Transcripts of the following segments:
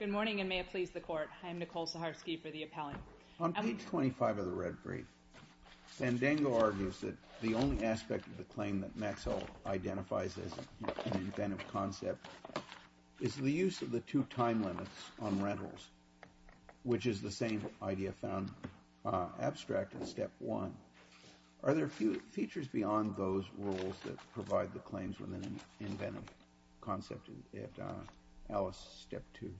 Good morning, and may it please the Court, I am Nicole Saharsky for the Appellant. On page 25 of the red brief, Fandango argues that the only aspect of the claim that Maxell identifies as an inventive concept is the use of the two time limits on rentals, which is the same idea found abstract in Step 1. Are there features beyond those rules that provide the claims with an inventive concept in Alice Step 2?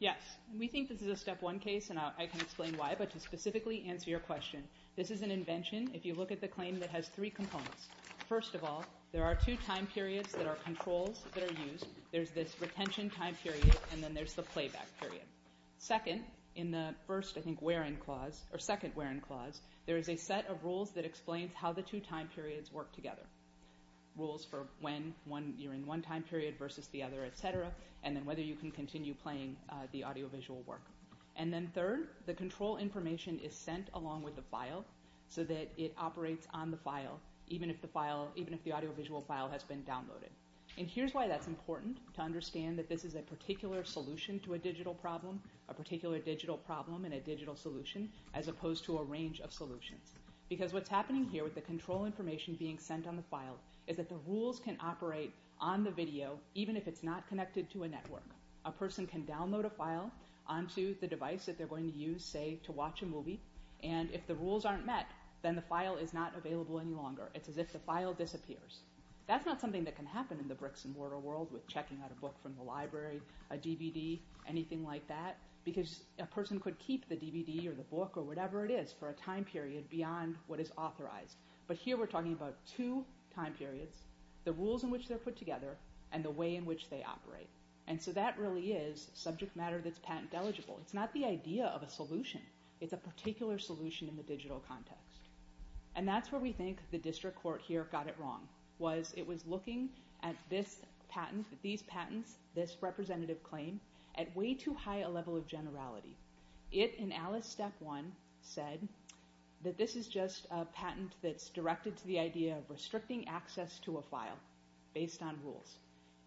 Yes, we think this is a Step 1 case, and I can explain why, but to specifically answer your question, this is an invention if you look at the claim that has three components. First of all, there are two time periods that are controls that are used. There's this retention time period, and then there's the playback period. Second, in the first, I think, where-in clause, or second where-in clause, there is a set of rules that explains how the two time periods work together. Rules for when you're in one time period versus the other, etc., and then whether you can continue playing the audiovisual work. And then third, the control information is sent along with the file so that it operates on the file, even if the audiovisual file has been downloaded. And here's why that's important, to understand that this is a particular solution to a digital problem, a particular digital problem and a digital solution, as opposed to a range of solutions. Because what's happening here with the control information being sent on the file is that the rules can operate on the video, even if it's not connected to a network. A person can download a file onto the device that they're going to use, say, to watch a movie, and if the rules aren't met, then the file is not available any longer. It's as if the file disappears. That's not something that can happen in the bricks-and-mortar world with checking out a book from the library, a DVD, anything like that, because a person could keep the DVD or the book or whatever it is for a time period beyond what is authorized. But here we're talking about two time periods, the rules in which they're put together, and the way in which they operate. And so that really is subject matter that's patent-eligible. It's not the idea of a solution. It's a particular solution in the digital context. And that's where we think the district court here got it wrong, was it was looking at this patent, these patents, this representative claim, at way too high a level of generality. It, in Alice Step 1, said that this is just a patent that's directed to the idea of restricting access to a file based on rules.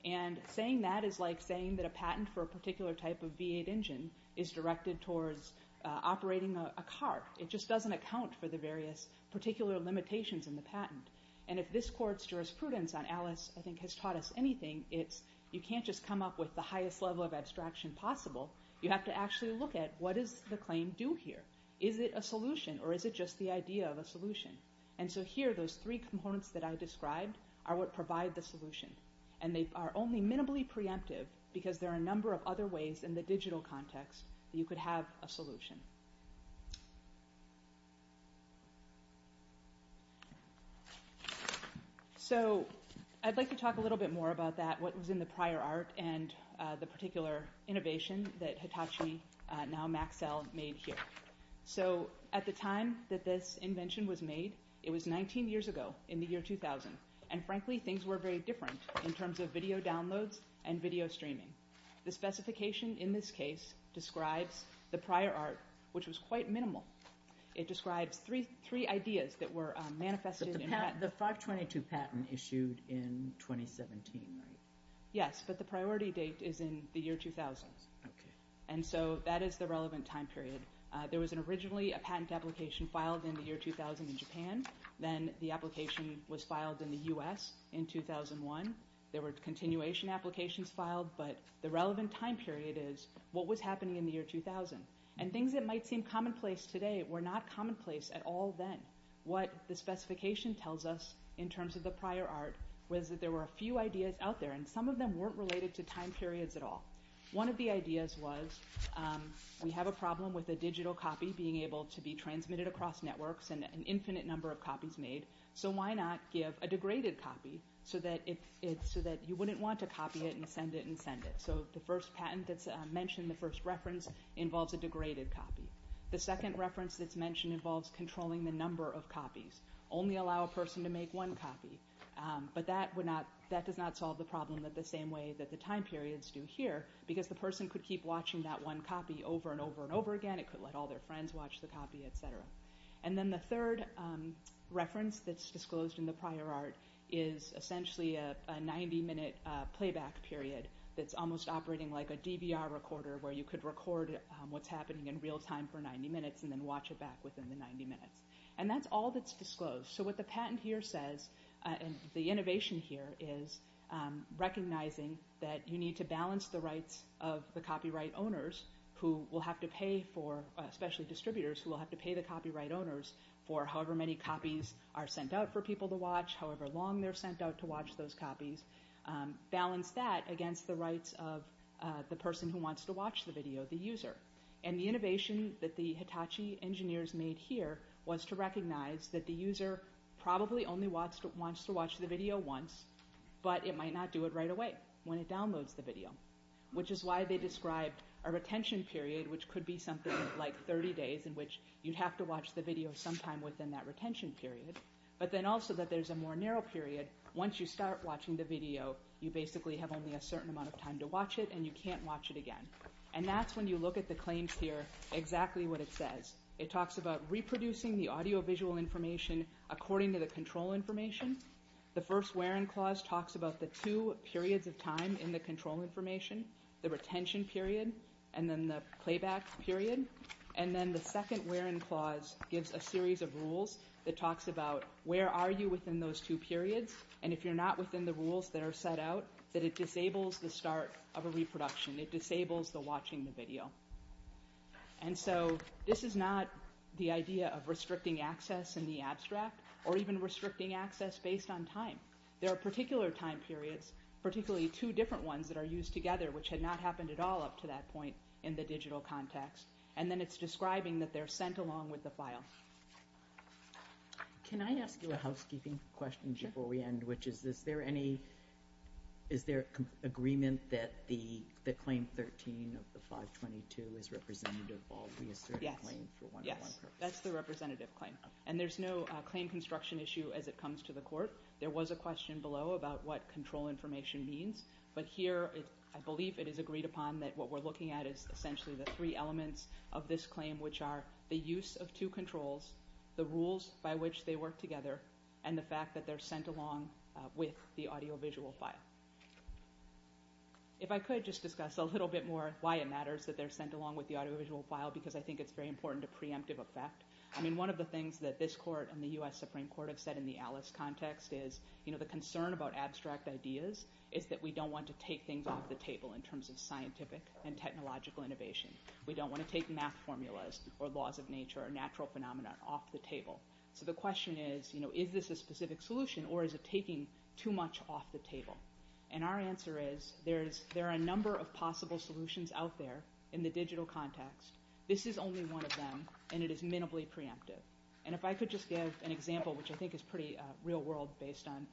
And saying that is like saying that a patent for a particular type of V8 engine is directed towards operating a car. It just doesn't account for the various particular limitations in the patent. And if this court's jurisprudence on Alice, I think, has taught us anything, it's you can't just come up with the highest level of abstraction possible. You have to actually look at, what does the claim do here? Is it a solution, or is it just the idea of a solution? And so here, those three components that I described are what provide the solution. And they are only minimally preemptive, because there are a number of other ways in the digital context that you could have a solution. So I'd like to talk a little bit more about that, what was in the prior art, and the particular innovation that Hitachi, now Maxell, made here. So at the time that this invention was made, it was 19 years ago, in the year 2000. And frankly, things were very different in terms of video downloads and video streaming. The specification in this case describes the prior art, which was quite minimal. It describes three ideas that were manifested in that. The 522 patent issued in 2017, right? Yes, but the priority date is in the year 2000. And so that is the relevant time period. There was originally a patent application filed in the year 2000 in Japan, then the application was filed in the US in 2001. There were continuation applications filed, but the relevant time period is what was happening in the year 2000. And things that might seem commonplace today were not commonplace at all then. What the specification tells us, in terms of the prior art, was that there were a few ideas out there, and some of them weren't related to time periods at all. One of the ideas was, we have a problem with a digital copy being able to be transmitted across networks, and an infinite number of copies made, so why not give a degraded copy so that you wouldn't want to copy it and send it and send it. So the first patent that's mentioned, the first reference, involves a degraded copy. The second reference that's mentioned involves controlling the number of copies. Only allow a person to make one copy. But that does not solve the problem in the same way that the time periods do here, because the person could keep watching that one copy over and over and over again, it could let all their friends watch the copy, etc. And then the third reference that's disclosed in the prior art is essentially a 90 minute playback period that's almost operating like a DVR recorder, where you could record what's happening in real time for 90 minutes, and then watch it back within the 90 minutes. And that's all that's disclosed. So what the patent here says, and the innovation here, is recognizing that you need to balance the rights of the copyright owners, who will have to pay for, especially distributors who will have to pay the copyright owners, for however many copies are sent out for people to watch, however long they're sent out to watch those copies. Balance that against the rights of the person who wants to watch the video, the user. And the innovation that the Hitachi engineers made here was to recognize that the user probably only wants to watch the video once, but it might not do it right away when it downloads the video, which is why they described a retention period, which could be something like 30 days in which you'd have to watch the video sometime within that retention period. But then also that there's a more narrow period, once you start watching the video, you basically have only a certain amount of time to watch it, and you can't watch it again. And that's when you look at the claims here, exactly what it says. It talks about reproducing the audio-visual information according to the control information. The first where-in clause talks about the two periods of time in the control information, the retention period, and then the playback period, and then the second where-in clause gives a series of rules that talks about where are you within those two periods, and if you're not within the rules that are set out, that it disables the start of a reproduction. It disables the watching the video. And so this is not the idea of restricting access in the abstract, or even restricting access based on time. There are particular time periods, particularly two different ones that are used together, which had not happened at all up to that point in the digital context, and then it's describing that they're sent along with the file. Can I ask you a housekeeping question before we end, which is, is there any, is there agreement that the claim 13 of the 522 is representative of all reasserted claims for one purpose? Yes, that's the representative claim, and there's no claim construction issue as it comes to the court. There was a question below about what control information means, but here I believe it is agreed upon that what we're looking at is essentially the three elements of this claim, which are the use of two controls, the rules by which they work together, and the fact that they're sent along with the audiovisual file. If I could just discuss a little bit more why it matters that they're sent along with the audiovisual file, because I think it's very important to preemptive effect. I mean, one of the things that this court and the U.S. Supreme Court have said in the Alice context is, you know, the concern about abstract ideas is that we don't want to take things off the table in terms of scientific and technological innovation. We don't want to take math formulas or laws of nature or natural phenomena off the table. So the question is, you know, is this a specific solution or is it taking too much off the table? And our answer is there are a number of possible solutions out there in the digital context. This is only one of them, and it is minimally preemptive. And if I could just give an example, which I think is pretty real world based on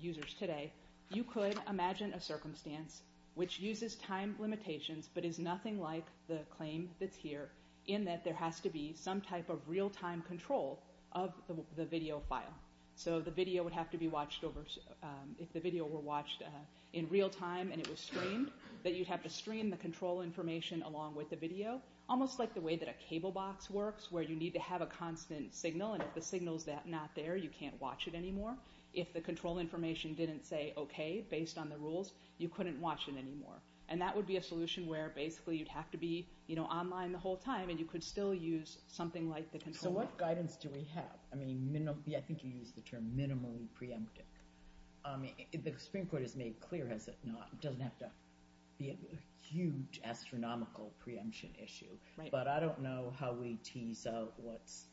users today, you could imagine a circumstance which uses time limitations but is nothing like the claim that's here, in that there has to be some type of real-time control of the video file. So the video would have to be watched over – if the video were watched in real time and it was streamed, that you'd have to stream the control information along with the video, almost like the way that a cable box works, where you need to have a constant signal, and if the signal's not there, you can't watch it anymore. If the control information didn't say, okay, based on the rules, you couldn't watch it anymore. And that would be a solution where basically you'd have to be online the whole time and you could still use something like the control box. So what guidance do we have? I mean, I think you used the term minimally preemptive. The Supreme Court has made clear, has it not, it doesn't have to be a huge astronomical preemption issue. Right. But I don't know how we tease out what's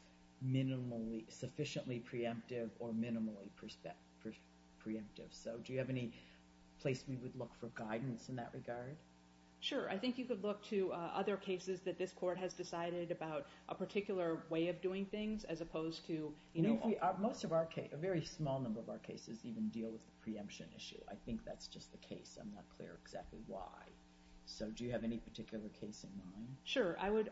minimally – sufficiently preemptive or minimally preemptive. So do you have any place we would look for guidance in that regard? Sure. I think you could look to other cases that this court has decided about a particular way of doing things, as opposed to – I mean, most of our – a very small number of our cases even deal with the preemption issue. I think that's just the case. I'm not clear exactly why. So do you have any particular case in mind? Sure. I would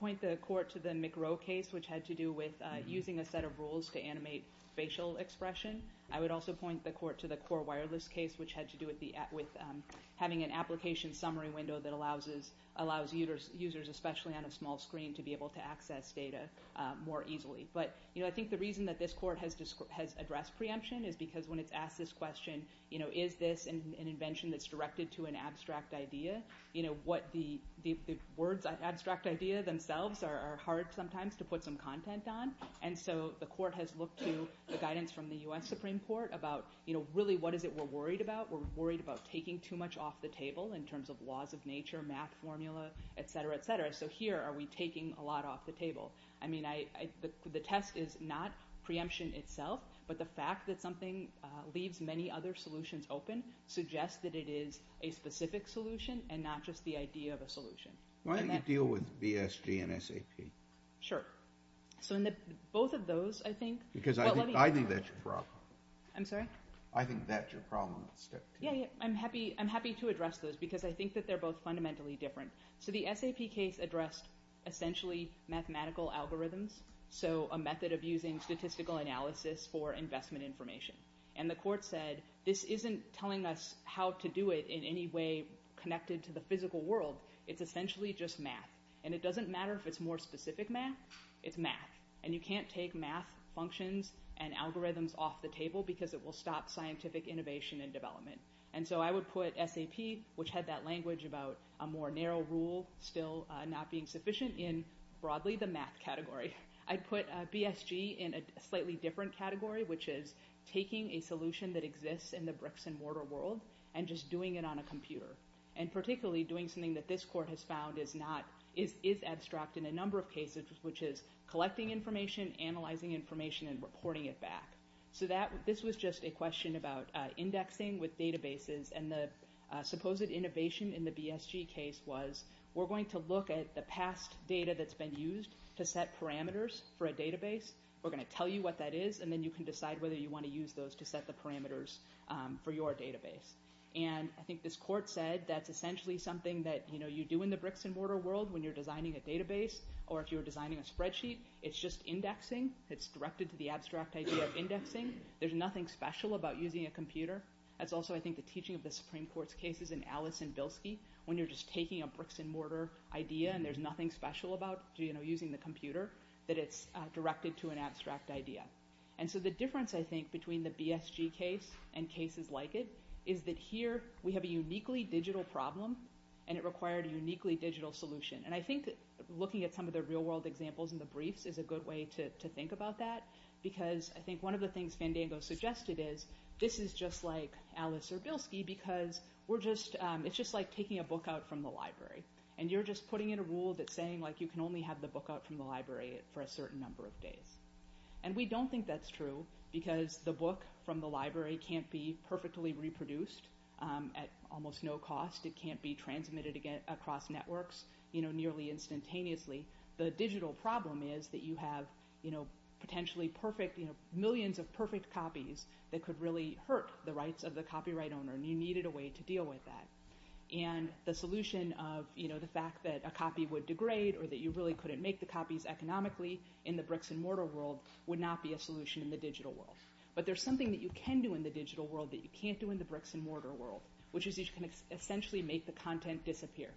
point the court to the McRow case, which had to do with using a set of rules to animate facial expression. I would also point the court to the Core Wireless case, which had to do with having an application summary window that allows users, especially on a small screen, to be able to access data more easily. But, you know, I think the reason that this court has addressed preemption is because when it's asked this question, you know, is this an invention that's directed to an abstract idea, you know, what the words – abstract idea themselves are hard sometimes to put some content on. And so the court has looked to the guidance from the U.S. Supreme Court about, you know, really what is it we're worried about. We're worried about taking too much off the table in terms of laws of nature, math formula, et cetera, et cetera. So here are we taking a lot off the table. I mean, I – the test is not preemption itself, but the fact that something leaves many other solutions open suggests that it is a specific solution and not just the idea of a solution. Why do you deal with BSG and SAP? Sure. So in the – both of those, I think – Because I think that's your problem. I'm sorry? I think that's your problem. Yeah, yeah. I'm happy – I'm happy to address those because I think that they're both fundamentally different. So the SAP case addressed essentially mathematical algorithms, so a method of using statistical analysis for investment information. And the court said this isn't telling us how to do it in any way connected to the physical world. It's essentially just math. And it doesn't matter if it's more specific math, it's math. And you can't take math functions and algorithms off the table because it will stop scientific innovation and development. And so I would put SAP, which had that language about a more narrow rule still not being sufficient, in broadly the math category. I'd put BSG in a slightly different category, which is taking a solution that exists in the bricks-and-mortar world and just doing it on a computer. And particularly doing something that this court has found is not – is abstract in a number of cases, which is collecting information, analyzing information, and reporting it back. So this was just a question about indexing with databases, and the supposed innovation in the BSG case was we're going to look at the past data that's been used to set parameters for a database. We're going to tell you what that is, and then you can decide whether you want to use those to set the parameters for your database. And I think this court said that's essentially something that you do in the bricks-and-mortar world when you're designing a database, or if you're designing a spreadsheet. It's just indexing. It's directed to the abstract idea of indexing. There's nothing special about using a computer. That's also, I think, the teaching of the Supreme Court's cases in Alice and Bilski. When you're just taking a bricks-and-mortar idea and there's nothing special about using the computer, that it's directed to an abstract idea. And so the difference, I think, between the BSG case and cases like it is that here we have a uniquely digital problem, and it required a uniquely digital solution. And I think looking at some of the real-world examples in the briefs is a good way to think about that, because I think one of the things Fandango suggested is this is just like Alice or Bilski because it's just like taking a book out from the library. And you're just putting in a rule that's saying you can only have the book out from the library for a certain number of days. And we don't think that's true, because the book from the library can't be perfectly reproduced at almost no cost. It can't be transmitted across networks nearly instantaneously. The digital problem is that you have potentially perfect, millions of perfect copies that could really hurt the rights of the copyright owner, and you needed a way to deal with that. And the solution of the fact that a copy would degrade or that you really couldn't make the world would not be a solution in the digital world. But there's something that you can do in the digital world that you can't do in the bricks and mortar world, which is you can essentially make the content disappear.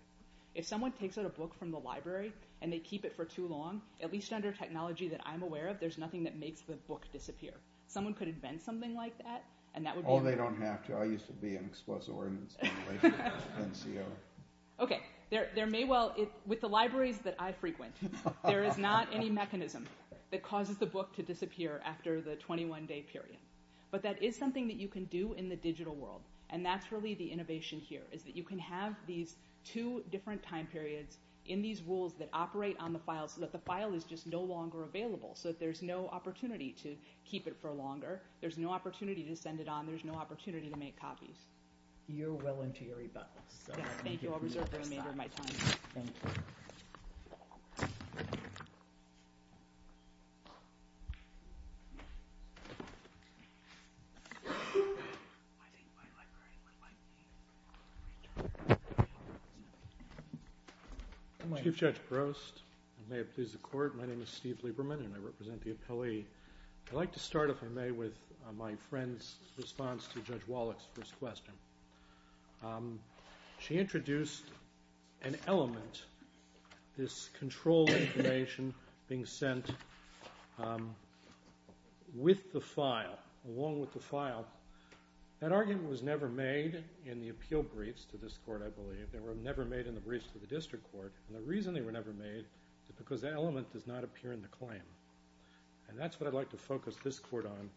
If someone takes out a book from the library and they keep it for too long, at least under technology that I'm aware of, there's nothing that makes the book disappear. Someone could invent something like that, and that would be... Oh, they don't have to. I used to be in explosive ordnance in relation to NCO. Okay. There may well... With the libraries that I frequent, there is not any mechanism that causes the book to disappear after the 21-day period. But that is something that you can do in the digital world, and that's really the innovation here, is that you can have these two different time periods in these rules that operate on the files, so that the file is just no longer available, so that there's no opportunity to keep it for longer. There's no opportunity to send it on. There's no opportunity to make copies. You're well into your rebuttal, so I'm going to give you the first slide. Thank you. I'll reserve the remainder of my time. Thank you. Thank you. I think my librarian would like me to return to the panel, so... Chief Judge Brost, may it please the Court, my name is Steve Lieberman, and I represent the appellee. I'd like to start, if I may, with my friend's response to Judge Wallach's first question. She introduced an element, this control information being sent with the file, along with the file. That argument was never made in the appeal briefs to this Court, I believe. They were never made in the briefs to the District Court, and the reason they were never made is because that element does not appear in the claim. And that's what I'd like to focus this Court on,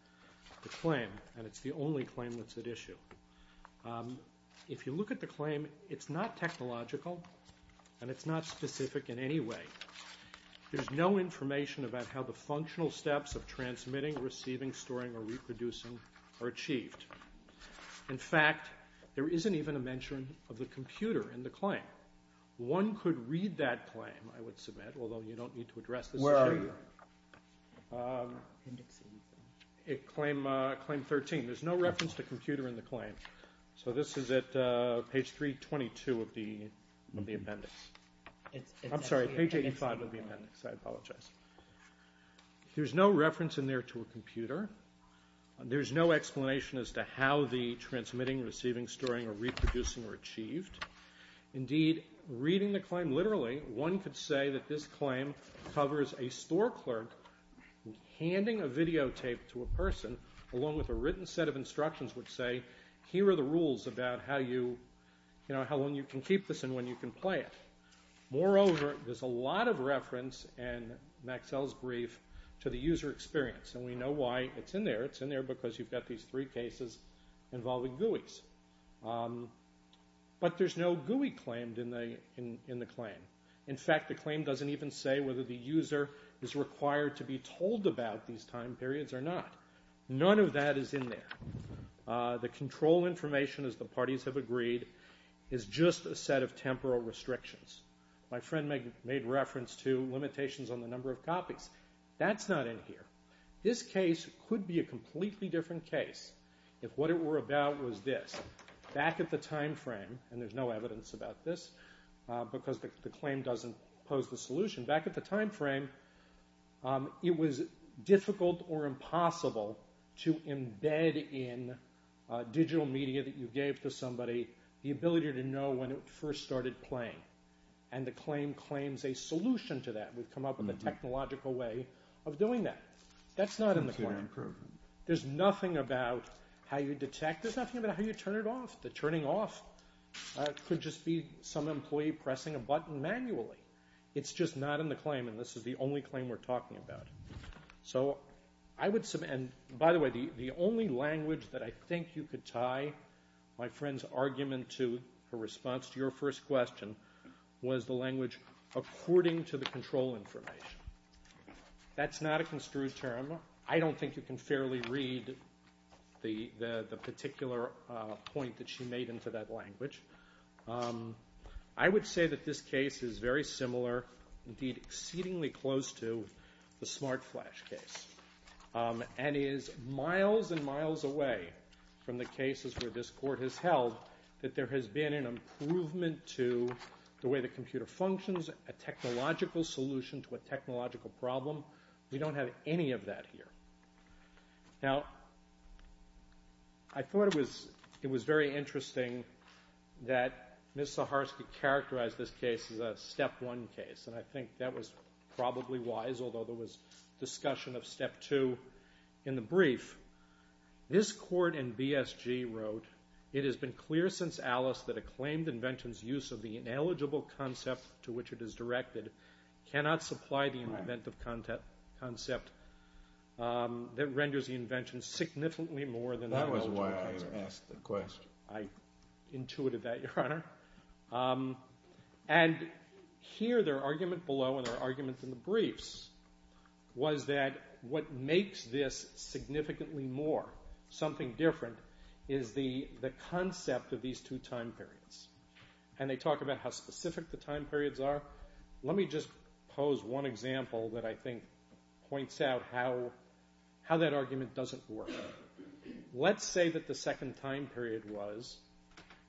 the claim, and it's the only claim that's not specific to this issue. If you look at the claim, it's not technological, and it's not specific in any way. There's no information about how the functional steps of transmitting, receiving, storing, or reproducing are achieved. In fact, there isn't even a mention of the computer in the claim. One could read that claim, I would submit, although you don't need to address this issue. Where are you? Claim 13. There's no reference to computer in the claim. So this is at page 322 of the appendix, I'm sorry, page 85 of the appendix, I apologize. There's no reference in there to a computer. There's no explanation as to how the transmitting, receiving, storing, or reproducing were achieved. Indeed, reading the claim literally, one could say that this claim covers a store clerk handing a videotape to a person, along with a written set of instructions which say, here are the rules about how long you can keep this and when you can play it. Moreover, there's a lot of reference in Maxell's brief to the user experience, and we know why it's in there. It's in there because you've got these three cases involving GUIs. But there's no GUI claimed in the claim. In fact, the claim doesn't even say whether the user is required to be told about these time periods or not. None of that is in there. The control information, as the parties have agreed, is just a set of temporal restrictions. My friend made reference to limitations on the number of copies. That's not in here. This case could be a completely different case if what it were about was this. Back at the time frame, and there's no evidence about this because the claim doesn't pose the solution. Back at the time frame, it was difficult or impossible to embed in digital media that you gave to somebody the ability to know when it first started playing, and the claim claims a solution to that. We've come up with a technological way of doing that. That's not in the claim. There's nothing about how you detect. There's nothing about how you turn it off. The turning off could just be some employee pressing a button manually. It's just not in the claim, and this is the only claim we're talking about. By the way, the only language that I think you could tie my friend's argument to her response to your first question was the language, according to the control information. That's not a construed term. I don't think you can fairly read the particular point that she made into that language. I would say that this case is very similar, indeed exceedingly close to the SmartFlash case, and is miles and miles away from the cases where this Court has held that there has been an improvement to the way the computer functions, a technological solution to a technological problem. We don't have any of that here. Now, I thought it was very interesting that Ms. Saharsky characterized this case as a step one case, and I think that was probably wise, although there was discussion of step two in the brief. This Court in BSG wrote, it has been clear since Alice that a claimed invention's use of the ineligible concept to which it is directed cannot supply the inventive concept that renders the invention significantly more than the ineligible concept. That was why I asked the question. I intuited that, Your Honor. And here, their argument below, and their argument in the briefs, was that what makes this significantly more, something different, is the concept of these two time periods. And they talk about how specific the time periods are. Let me just pose one example that I think points out how that argument doesn't work. Let's say that the second time period was,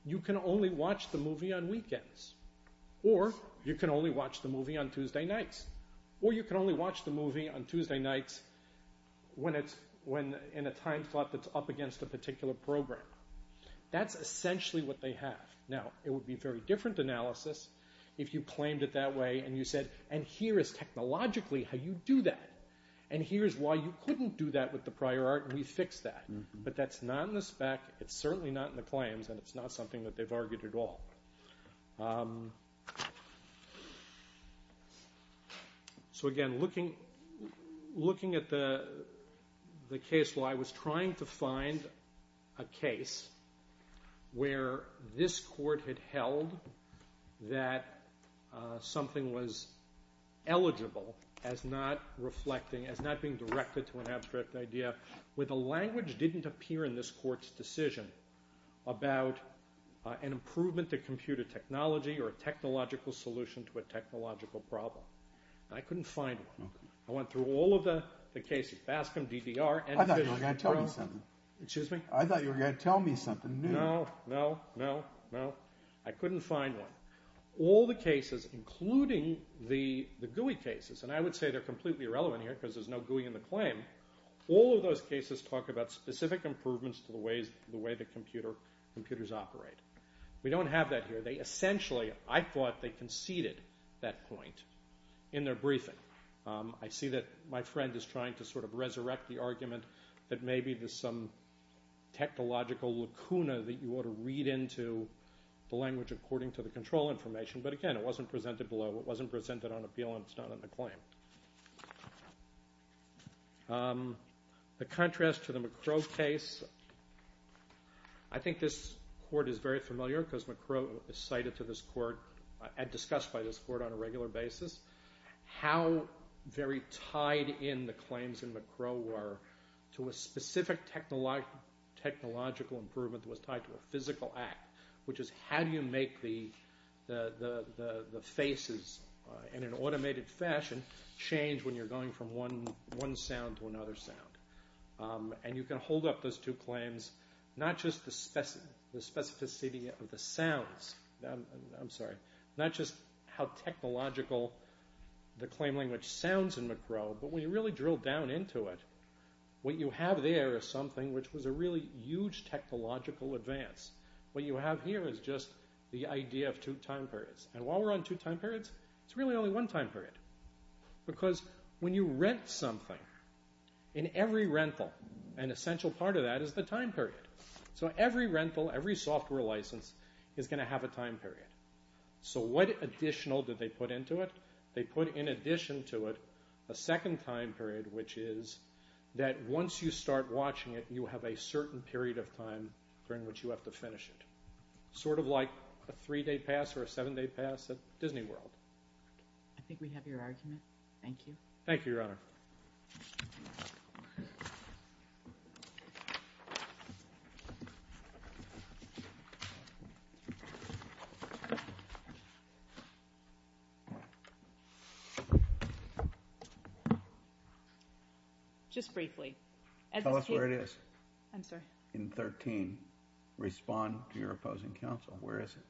you can only watch the movie on weekends, or you can only watch the movie on Tuesday nights, or you can only watch the movie on Tuesday nights when in a time slot that's up against a particular program. That's essentially what they have. Now, it would be a very different analysis if you claimed it that way, and you said, and here is technologically how you do that. And here's why you couldn't do that with the prior art, and we fixed that. But that's not in the spec, it's certainly not in the claims, and it's not something that they've argued at all. So, again, looking at the case law, I was trying to find a case where this court had held that something was eligible as not reflecting, as not being directed to an abstract idea, where the language didn't appear in this court's decision about an improvement to computer technology or a technological solution to a technological problem, and I couldn't find one. I went through all of the cases, BASCM, DDR, NVIDIA, Pro, I thought you were going to tell me something new. No, no, no, no. I couldn't find one. All the cases, including the GUI cases, and I would say they're completely irrelevant here because there's no GUI in the claim, all of those cases talk about specific improvements to the way the computers operate. We don't have that here. They essentially, I thought they conceded that point in their briefing. I see that my friend is trying to sort of resurrect the argument that maybe there's some technological lacuna that you ought to read into the language according to the control information, but, again, it wasn't presented below, it wasn't presented on appeal, and it's not in the claim. The contrast to the McCrow case, I think this court is very familiar because McCrow is cited to this court and discussed by this court on a regular basis, how very tied in the claims in McCrow were to a specific technological improvement that was tied to a physical act, which is how do you make the faces, in an automated fashion, change when you're going from one sound to another sound. And you can hold up those two claims, not just the specificity of the sounds, I'm sorry, not just how technological the claim language sounds in McCrow, but when you really drill down into it, what you have there is something which was a really huge technological advance. What you have here is just the idea of two time periods, and while we're on two time periods, it's really only one time period. Because when you rent something, in every rental, an essential part of that is the time period. So every rental, every software license, is going to have a time period. So what additional did they put into it? They put in addition to it a second time period, which is that once you start watching it, you have a certain period of time during which you have to finish it. Sort of like a three-day pass or a seven-day pass at Disney World. I think we have your argument. Thank you. Thank you, Your Honor. Just briefly. Tell us where it is. I'm sorry. In 13, respond to your opposing counsel. Where is it?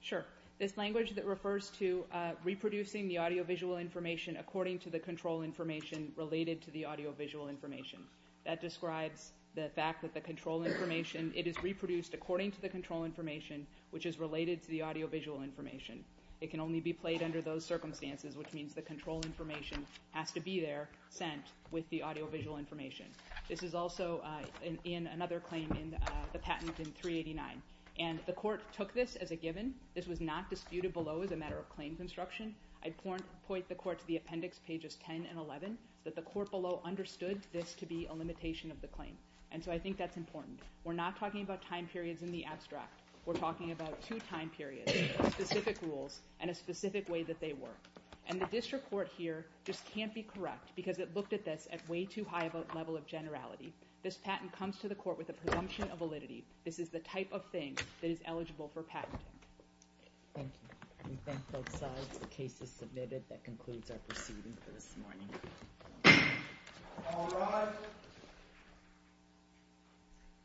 Sure. This language that refers to reproducing the audiovisual information according to the control information related to the audiovisual information. That describes the fact that the control information, it is reproduced according to the control information, which is related to the audiovisual information. It can only be played under those circumstances, which means the control information has to be there, sent, with the audiovisual information. This is also in another claim in the patent in 389. And the court took this as a given. This was not disputed below as a matter of claim construction. I'd point the court to the appendix pages 10 and 11, that the court below understood this to be a limitation of the claim. And so I think that's important. We're not talking about time periods in the abstract. We're talking about two time periods, specific rules, and a specific way that they work. And the district court here just can't be correct because it looked at this at way too high of a level of generality. This patent comes to the court with a presumption of validity. This is the type of thing that is eligible for patenting. Thank you. We thank both sides. The case is submitted. That concludes our proceeding for this morning. All rise.